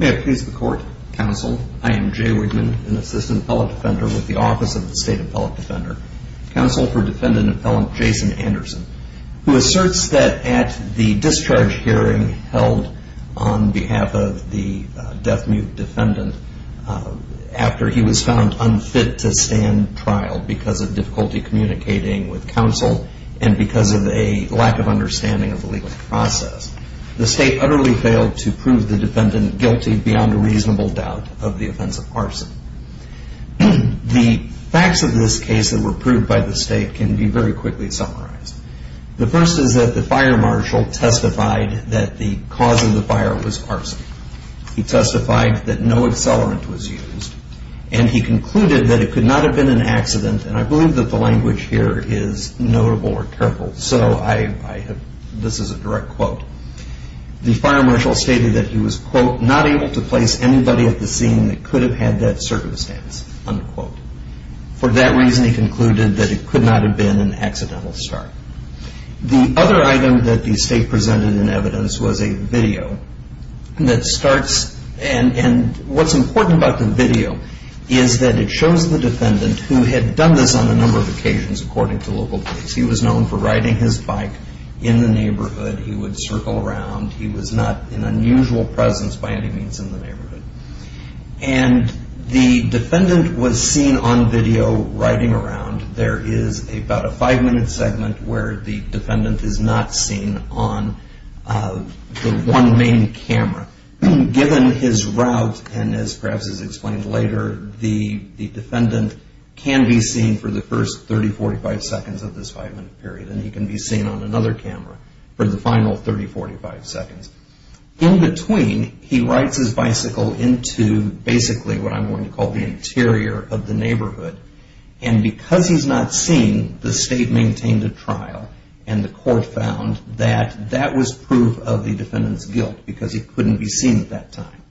May it please the Court, Counsel, I am Jay Williams. It is my great pleasure to be here today to discuss the case of Jason Anderson, who asserts that at the discharge hearing held on behalf of the death mute defendant after he was found unfit to stand trial because of difficulty communicating with counsel and because of a lack of understanding of the legal process, the state utterly failed to prove the defendant guilty beyond a reasonable doubt of the offense of arson. The facts of this case that were proved by the state can be very quickly summarized. The first is that the fire marshal testified that the cause of the fire was arson. He testified that no accelerant was used and he concluded that it could not have been an accident and I believe that the language here is notable or careful so this is a direct quote. The fire marshal stated that he was, quote, not able to place anybody at the scene that could have had that circumstance, unquote. For that reason he concluded that it could not have been an accidental start. The other item that the state presented in evidence was a video that starts and what's important about the video is that it shows the defendant who had done this on a number of occasions according to local police. He was known for riding his bike in the neighborhood. He would circle around. He was not in unusual presence by any means in the neighborhood and the defendant was seen on video riding around. There is about a five minute segment where the defendant is not seen on the one main camera. Given his route and as perhaps is explained later, the defendant can be seen for the first 30, 45 seconds of this five minute period and he can be seen on another camera for the final 30, 45 seconds. In between he rides his bicycle into basically what I'm going to call the interior of the neighborhood and because he's not seen, the state maintained a trial and the court found that that was proof of the defendant's guilt because he couldn't be seen at that time.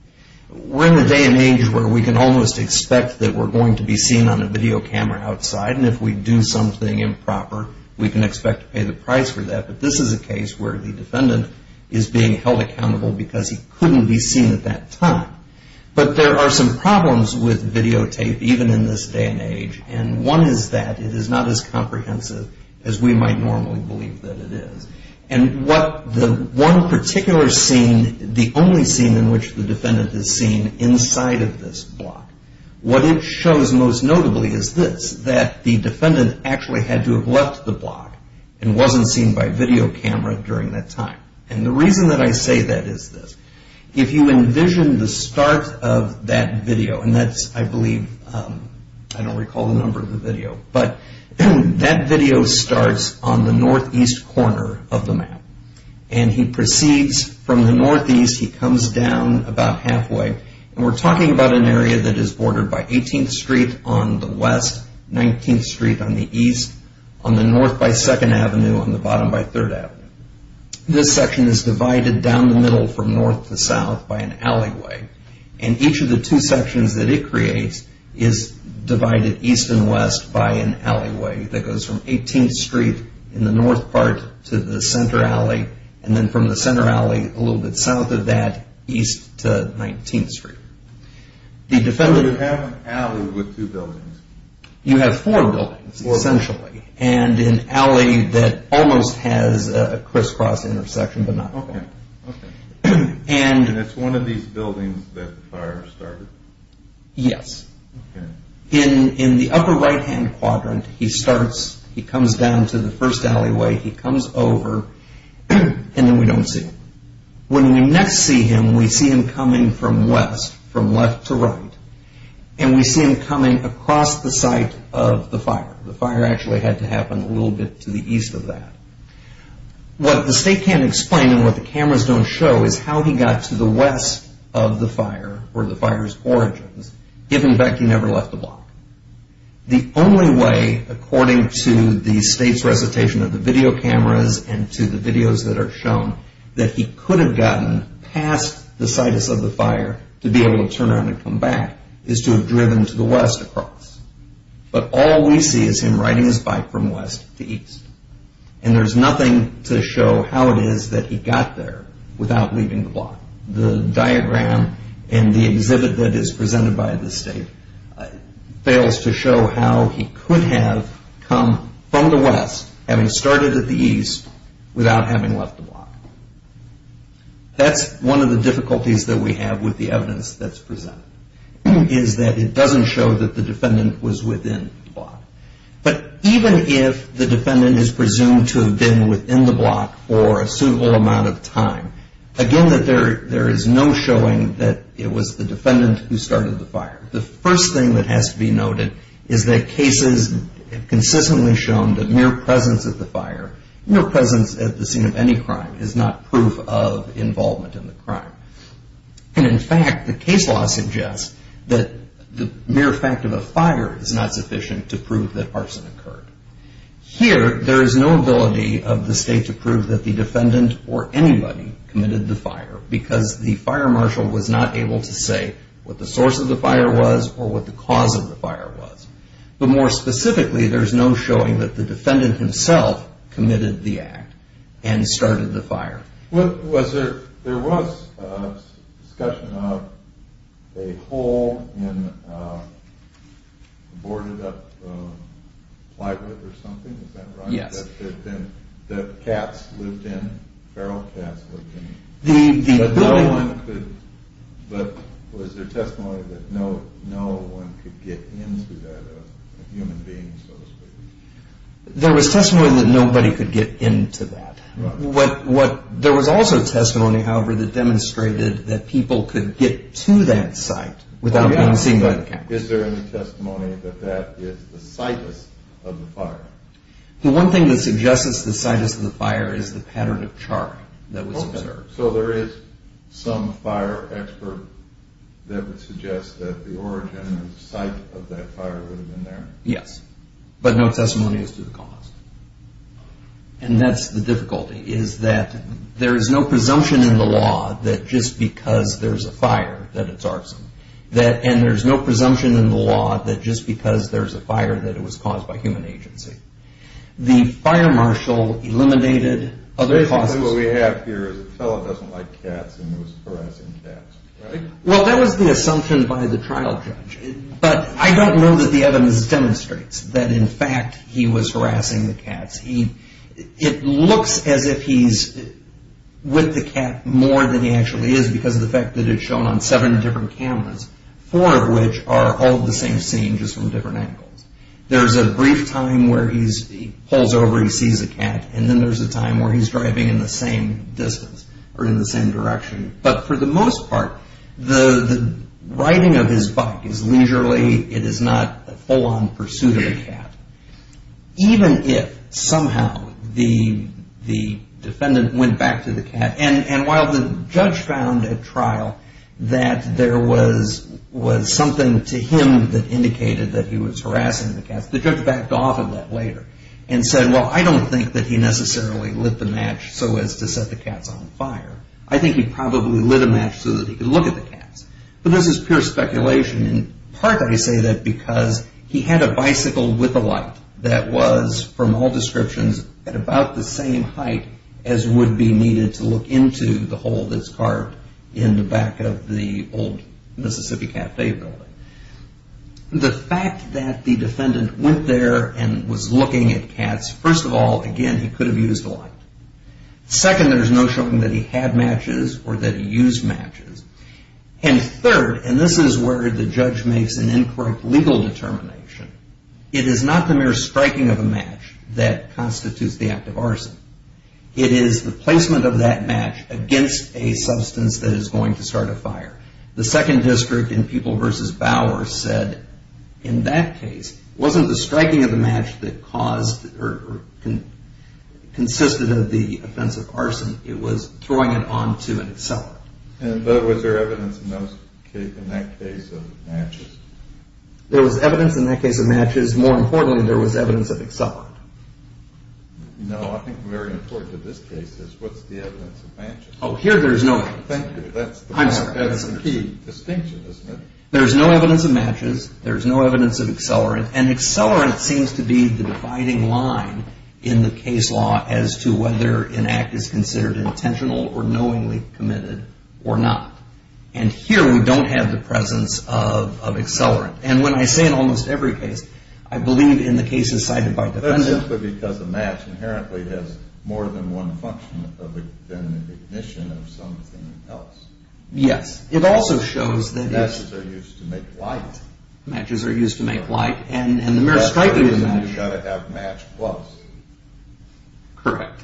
We're in a day and age where we can almost expect that we're going to be seen on a video camera outside and if we do something improper, we can expect to pay the price for that. But this is a case where the defendant is being held accountable because he couldn't be seen at that time. But there are some problems with videotape even in this day and age and one is that it is not as comprehensive as we might normally believe that it is. And what the one particular scene, the only scene in which the defendant is seen inside of this block, what it shows most notably is this, that the defendant actually had to have left the block and wasn't seen by video camera during that time. And the reason that I say that is this. If you envision the start of that video and that's I believe, I don't recall the number of the video, but that video starts on the northeast corner of the map and he proceeds from the northeast, he comes down about halfway and we're talking about an area that is bordered by 18th Street on the west, 19th Street on the east, on the north by 2nd Avenue, on the bottom by 3rd Avenue. This section is divided down the middle from north to south by an alleyway and each of the two sections that it creates is divided east and west by an alleyway that goes from a little bit south of that east to 19th Street. The defendant... You have an alley with two buildings? You have four buildings essentially and an alley that almost has a crisscross intersection but not a corner. Okay, okay. And it's one of these buildings that the fire started? Yes. In the upper right hand quadrant, he starts, he comes down to the first alleyway, he comes over and then we don't see him. When we next see him, we see him coming from west, from left to right, and we see him coming across the site of the fire. The fire actually had to happen a little bit to the east of that. What the state can't explain and what the cameras don't show is how he got to the west of the fire or the fire's origins, given that he never left the block. The only way, according to the state's recitation of the video cameras and to the videos that are shown, that he could have gotten past the situs of the fire to be able to turn around and come back is to have driven to the west across. But all we see is him riding his bike from west to east and there's nothing to show how it is that he got there without leaving the block. The diagram and the exhibit that is presented by the state fails to show how he could have come from the west, having started at the east, without having left the block. That's one of the difficulties that we have with the evidence that's presented, is that it doesn't show that the defendant was within the block. But even if the defendant is presumed to have been within the block for a suitable amount of time, again that there is no showing that it was the defendant who started the fire. The first thing that has to be noted is that cases have consistently shown that mere presence at the fire, mere presence at the scene of any crime, is not proof of involvement in the crime. And in fact, the case law suggests that the mere fact of a fire is not sufficient to prove that arson occurred. Here, there is no ability of the state to prove that the defendant or anybody committed the fire because the fire marshal was not able to say what the source of the fire was or what the cause of the fire was. But more specifically, there is no showing that the defendant himself committed the act and started the fire. There was discussion of a hole in a boarded up plywood or something, is that right? Yes. That cats lived in, feral cats lived in. But was there testimony that no one could get into that, a human being so to speak? There was testimony that nobody could get into that. There was also testimony, however, that demonstrated that people could get to that site without being seen by the camera. Is there any testimony that that is the situs of the fire? The one thing that suggests it's the situs of the fire is the pattern of char that was observed. So there is some fire expert that would suggest that the origin and the site of that fire would have been there? Yes. But no testimony as to the cause. And that's the difficulty, is that there is no presumption in the law that just because there's a fire that it's arson. And there's no presumption in the law that just because there's a fire that it was caused by human agency. The fire marshal eliminated other causes. What we have here is a fella doesn't like cats and he was harassing cats, right? Well, that was the assumption by the trial judge. But I don't know that the evidence demonstrates that in fact he was harassing the cats. It looks as if he's with the cat more than he actually is because of the fact that it's shown on seven different cameras, four of which are all the same scene just from different angles. There's a brief time where he pulls over, he sees a cat, and then there's a time where he's driving in the same distance or in the same direction. But for the most part, the riding of his bike is leisurely. It is not a full-on pursuit of the cat. Even if somehow the defendant went back to the cat, and while the judge found at trial that there was something to him that indicated that he was harassing the cats, the judge backed off of that later and said, well, I don't think that he necessarily lit the match so as to set the cats on fire. I think he probably lit a match so that he could look at the cats. But this is pure speculation. In part, I say that because he had a bicycle with a light that was, from all descriptions, at about the same height as would be needed to look into the hole that's carved in the back of the old Mississippi Cafe building. The fact that the defendant went there and was looking at cats, first of all, again, he could have used a light. Second, there's no showing that he had matches or that he used matches. And third, and this is where the judge makes an incorrect legal determination, it is not the mere striking of a match that constitutes the act of arson. It is the placement of that match against a substance that is going to start a fire. The Second District in People v. Bauer said, in that case, wasn't the striking of the offensive arson, it was throwing it onto an accelerant. And was there evidence in that case of matches? There was evidence in that case of matches. More importantly, there was evidence of accelerant. No, I think very important in this case is what's the evidence of matches? Oh, here there's no evidence. Thank you. I'm sorry. That's the key distinction, isn't it? There's no evidence of matches. There's no evidence of accelerant. And accelerant seems to be the dividing line in the case law as to whether an act is considered intentional or knowingly committed or not. And here we don't have the presence of accelerant. And when I say in almost every case, I believe in the cases cited by defendants. That's simply because a match inherently has more than one function than the ignition of something else. Yes. It also shows that it's... Matches are used to make light. Matches are used to make light. And the mere striking of a match... That's the reason you've got to have match plus. Correct.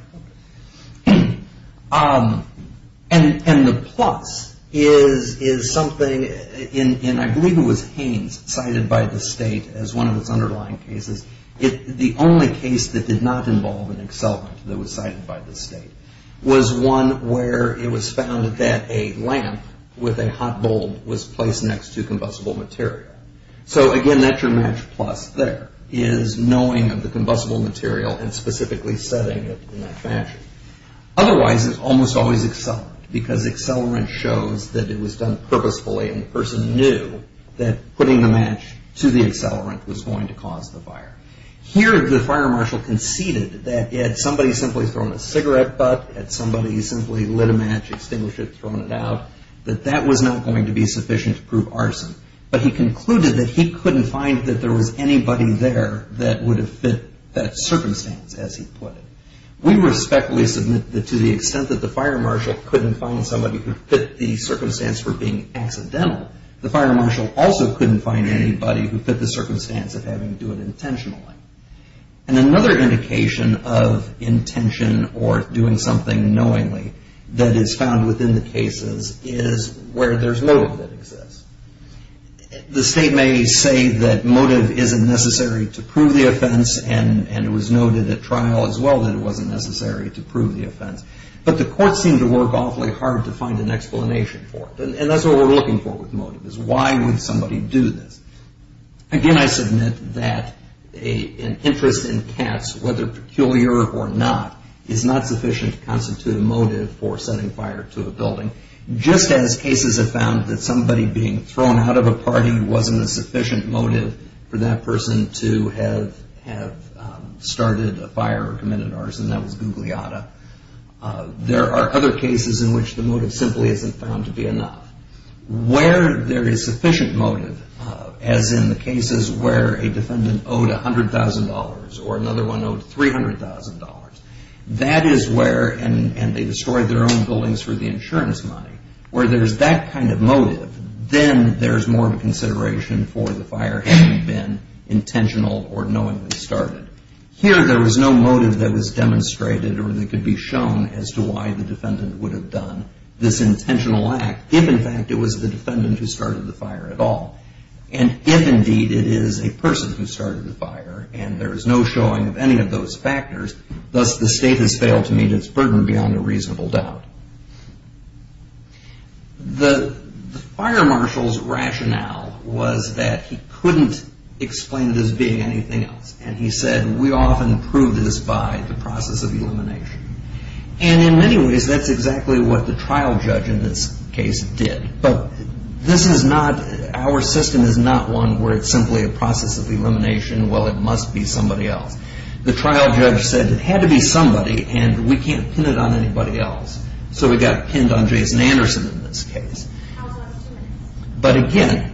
And the plus is something in... I believe it was Haines cited by the state as one of its underlying cases. The only case that did not involve an accelerant that was cited by the state was one where it was found that a lamp with a hot bulb was placed next to combustible material. So, again, that's your match plus there is knowing of the combustible material and specifically setting it in that fashion. Otherwise, it's almost always accelerant because accelerant shows that it was done purposefully and the person knew that putting the match to the accelerant was going to cause the fire. Here, the fire marshal conceded that had somebody simply thrown a cigarette butt, had somebody simply lit a match, extinguished it, thrown it out, that that was not going to be sufficient to prove arson. But he concluded that he couldn't find that there was anybody there that would have fit that circumstance, as he put it. We respectfully submit that to the extent that the fire marshal couldn't find somebody who fit the circumstance for being accidental, the fire marshal also couldn't find anybody who fit the circumstance of having to do it intentionally. And another indication of intention or doing something knowingly that is found within the cases is where there's motive that exists. The state may say that motive isn't necessary to prove the offense and it was noted at trial as well that it wasn't necessary to prove the offense. But the courts seem to work awfully hard to find an explanation for it. And that's what we're looking for with motive, is why would somebody do this? Again, I submit that an interest in cats, whether peculiar or not, is not sufficient to constitute a motive for setting fire to a building. Just as cases have found that somebody being thrown out of a party wasn't a sufficient motive for that person to have started a fire or committed arson, that was Gugliotta, there are other cases in which the motive simply isn't found to be enough. Where there is sufficient motive, as in the cases where a defendant owed $100,000 or another one owed $300,000, that is where, and they destroyed their own buildings for the insurance money, where there's that kind of motive, then there's more consideration for the fire having been intentional or knowingly started. Here there was no motive that was demonstrated or that could be shown as to why the defendant would have done this intentional act, if in fact it was the defendant who started the fire at all. And if indeed it is a person who started the fire, and there is no showing of any of those factors, thus the state has failed to meet its burden beyond a reasonable doubt. The fire marshal's rationale was that he couldn't explain this being anything else. And he said, we often prove this by the process of elimination. And in many ways that's exactly what the trial judge in this case did. But this is not, our system is not one where it's simply a process of elimination, well it must be somebody else. The trial judge said it had to be somebody and we can't pin it on anybody else. So we got pinned on Jason Anderson in this case. But again,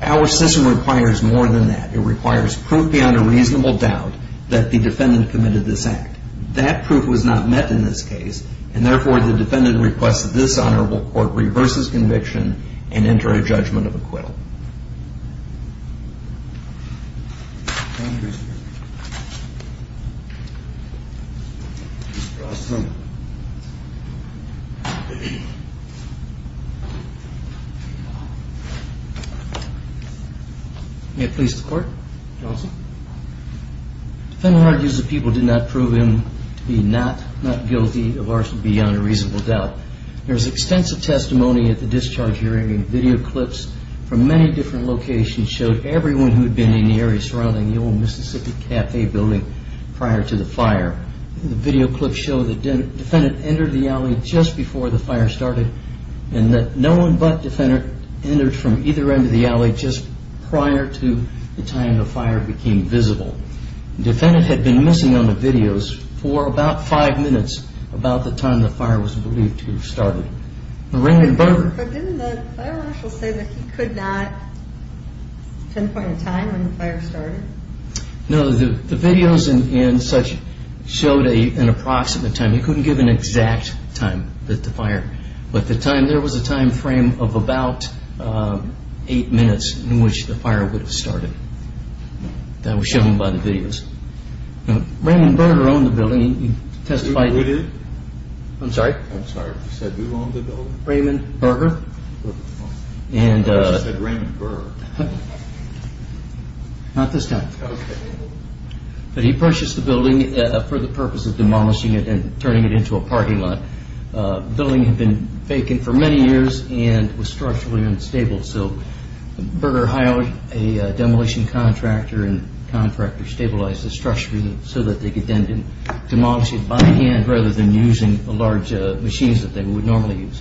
our system requires more than that. It requires proof beyond a reasonable doubt that the defendant committed this act. That proof was not met in this case. And therefore the defendant requests that this honorable court reverses conviction and enter a judgment of acquittal. Thank you. May it please the court. Johnson. Defendant argues that people did not prove him to be not guilty of arson beyond a reasonable doubt. There was extensive testimony at the discharge hearing and video clips from many different locations showed everyone who had been in the area surrounding the old Mississippi Cafe building prior to the fire. The video clips show the defendant entered the alley just before the fire started and that no one but the defendant entered from either end of the alley just prior to the time the fire became visible. The defendant had been missing on the videos for about five minutes about the time the fire was believed to have started. But didn't the fire marshal say that he could not pinpoint a time when the fire started? No, the videos and such showed an approximate time. He couldn't give an exact time that the fire. But there was a time frame of about eight minutes in which the fire would have started. That was shown by the videos. Now, Raymond Berger owned the building. Who did? I'm sorry? I'm sorry, you said who owned the building? Raymond Berger. I thought you said Raymond Burr. Not this time. Okay. But he purchased the building for the purpose of demolishing it and turning it into a parking lot. The building had been vacant for many years and was structurally unstable, so Berger hired a demolition contractor and the contractor stabilized the structure so that they could then demolish it by hand rather than using the large machines that they would normally use.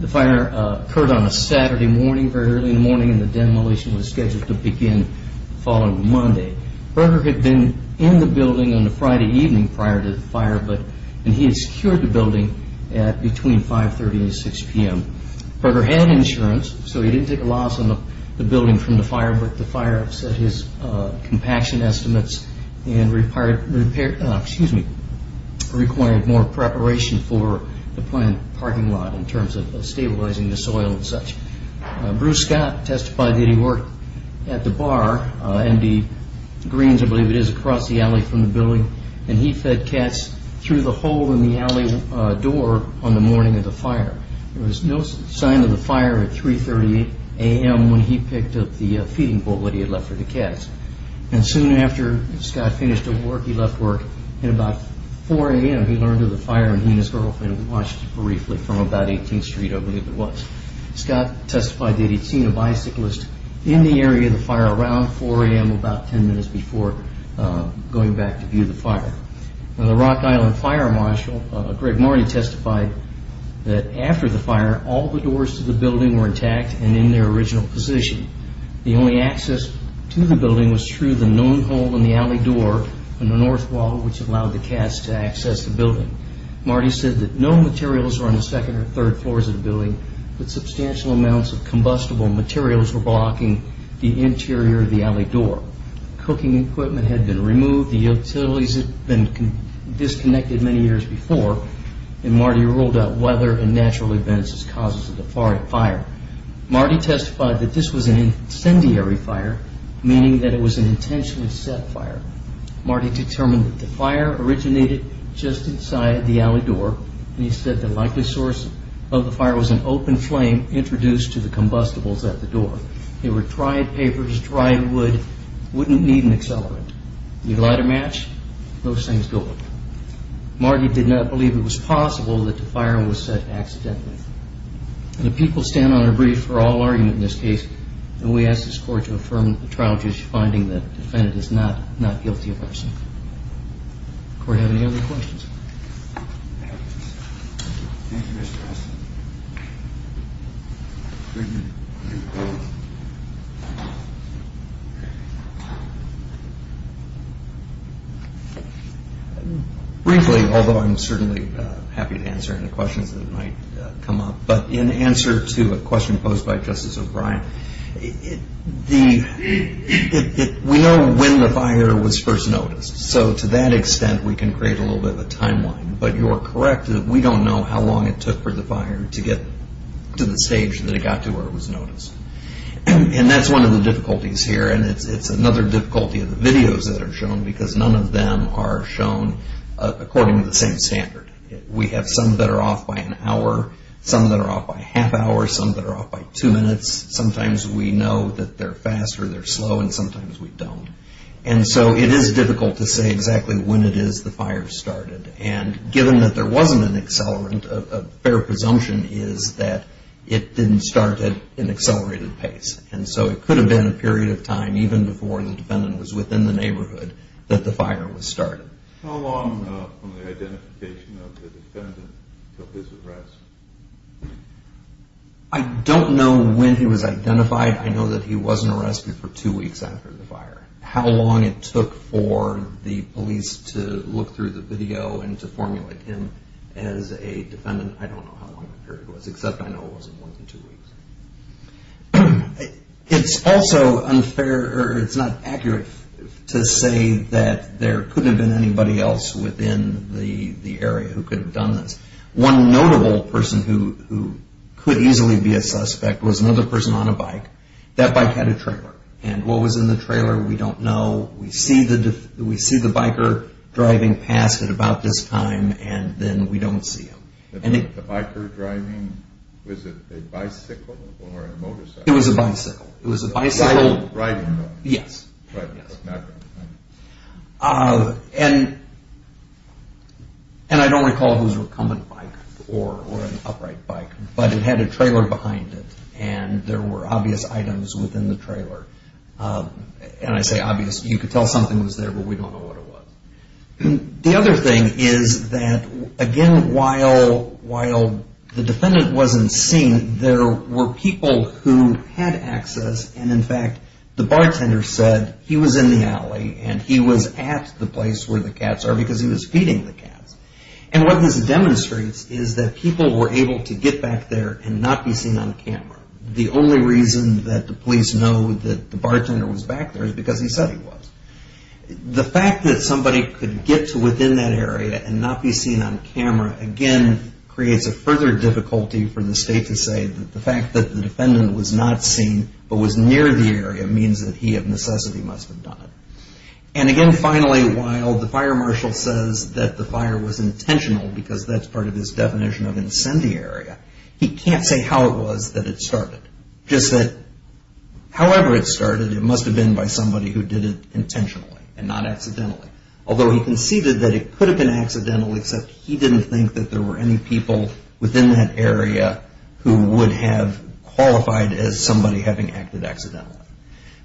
The fire occurred on a Saturday morning, very early in the morning, and the demolition was scheduled to begin the following Monday. Berger had been in the building on the Friday evening prior to the fire, and he had secured the building at between 530 and 6 p.m. Berger had insurance, so he didn't take a loss on the building from the fire, however, the fire upset his compaction estimates and required more preparation for the planned parking lot in terms of stabilizing the soil and such. Bruce Scott testified that he worked at the bar, MD Greens I believe it is, across the alley from the building, and he fed cats through the hole in the alley door on the morning of the fire. There was no sign of the fire at 3.30 a.m. when he picked up the feeding bowl that he had left for the cats, and soon after Scott finished his work, he left work at about 4 a.m. He learned of the fire and he and his girlfriend watched briefly from about 18th Street I believe it was. Scott testified that he had seen a bicyclist in the area of the fire around 4 a.m. about 10 minutes before going back to view the fire. The Rock Island Fire Marshal, Greg Marty, testified that after the fire, all the doors to the building were intact and in their original position. The only access to the building was through the known hole in the alley door on the north wall which allowed the cats to access the building. Marty said that no materials were on the second or third floors of the building, but substantial amounts of combustible materials were blocking the interior of the alley door. Cooking equipment had been removed. The utilities had been disconnected many years before, and Marty ruled out weather and natural events as causes of the fire. Marty testified that this was an incendiary fire, meaning that it was an intentionally set fire. Marty determined that the fire originated just inside the alley door, and he said the likely source of the fire was an open flame introduced to the combustibles at the door. The fire was lit because it was a fire with no natural cause, so they were dried papers, dried wood, wouldn't need an accelerant. You light a match, those things go up. Marty did not believe it was possible that the fire was set accidentally. The people stand on our brief for all argument in this case, and we ask this court to affirm the trial judge's finding that the defendant is not guilty of arson. Does the court have any other questions? Thank you, Mr. Austin. Briefly, although I'm certainly happy to answer any questions that might come up, but in answer to a question posed by Justice O'Brien, we know when the fire was first noticed, so to that extent we can create a little bit of a timeline, but you're correct that we don't know how long it took for the fire to get to the stage that it got to where it was noticed. And that's one of the difficulties here, and it's another difficulty of the videos that are shown, because none of them are shown according to the same standard. We have some that are off by an hour, some that are off by a half hour, some that are off by two minutes. Sometimes we know that they're fast or they're slow, and sometimes we don't. And so it is difficult to say exactly when it is the fire started. And given that there wasn't an accelerant, a fair presumption is that it didn't start at an accelerated pace. And so it could have been a period of time, even before the defendant was within the neighborhood, that the fire was started. How long from the identification of the defendant until his arrest? I don't know when he was identified. I know that he wasn't arrested for two weeks after the fire. How long it took for the police to look through the video and to formulate him as a defendant, I don't know how long the period was, except I know it wasn't more than two weeks. It's also unfair or it's not accurate to say that there couldn't have been anybody else within the area who could have done this. One notable person who could easily be a suspect was another person on a bike. That bike had a trailer. And what was in the trailer, we don't know. We see the biker driving past at about this time, and then we don't see him. The biker driving, was it a bicycle or a motorcycle? It was a bicycle. It was a bicycle. Riding on it? Yes. Riding on it. And I don't recall if it was a recumbent bike or an upright bike, but it had a trailer behind it, and there were obvious items within the trailer. And I say obvious, you could tell something was there, but we don't know what it was. The other thing is that, again, while the defendant wasn't seen, there were people who had access, and, in fact, the bartender said he was in the alley and he was at the place where the cats are because he was feeding the cats. And what this demonstrates is that people were able to get back there and not be seen on camera. The only reason that the police know that the bartender was back there is because he said he was. The fact that somebody could get to within that area and not be seen on camera, again, creates a further difficulty for the state to say that the fact that the defendant was not seen but was near the area means that he, of necessity, must have done it. And, again, finally, while the fire marshal says that the fire was intentional because that's part of his definition of incendiary, he can't say how it was that it started. Just that however it started, it must have been by somebody who did it intentionally and not accidentally, although he conceded that it could have been accidental except he didn't think that there were any people within that area who would have qualified as somebody having acted accidentally.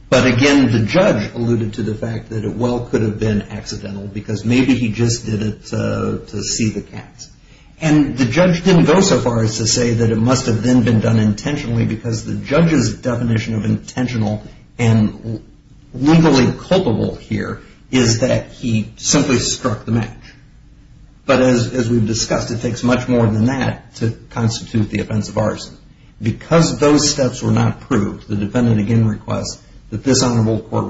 But, again, the judge alluded to the fact that it well could have been accidental because maybe he just did it to see the cats. And the judge didn't go so far as to say that it must have then been done intentionally because the judge's definition of intentional and legally culpable here is that he simply struck the match. But as we've discussed, it takes much more than that to constitute the offense of arson. Because those steps were not proved, the defendant again requests that this Honorable Court Thank you.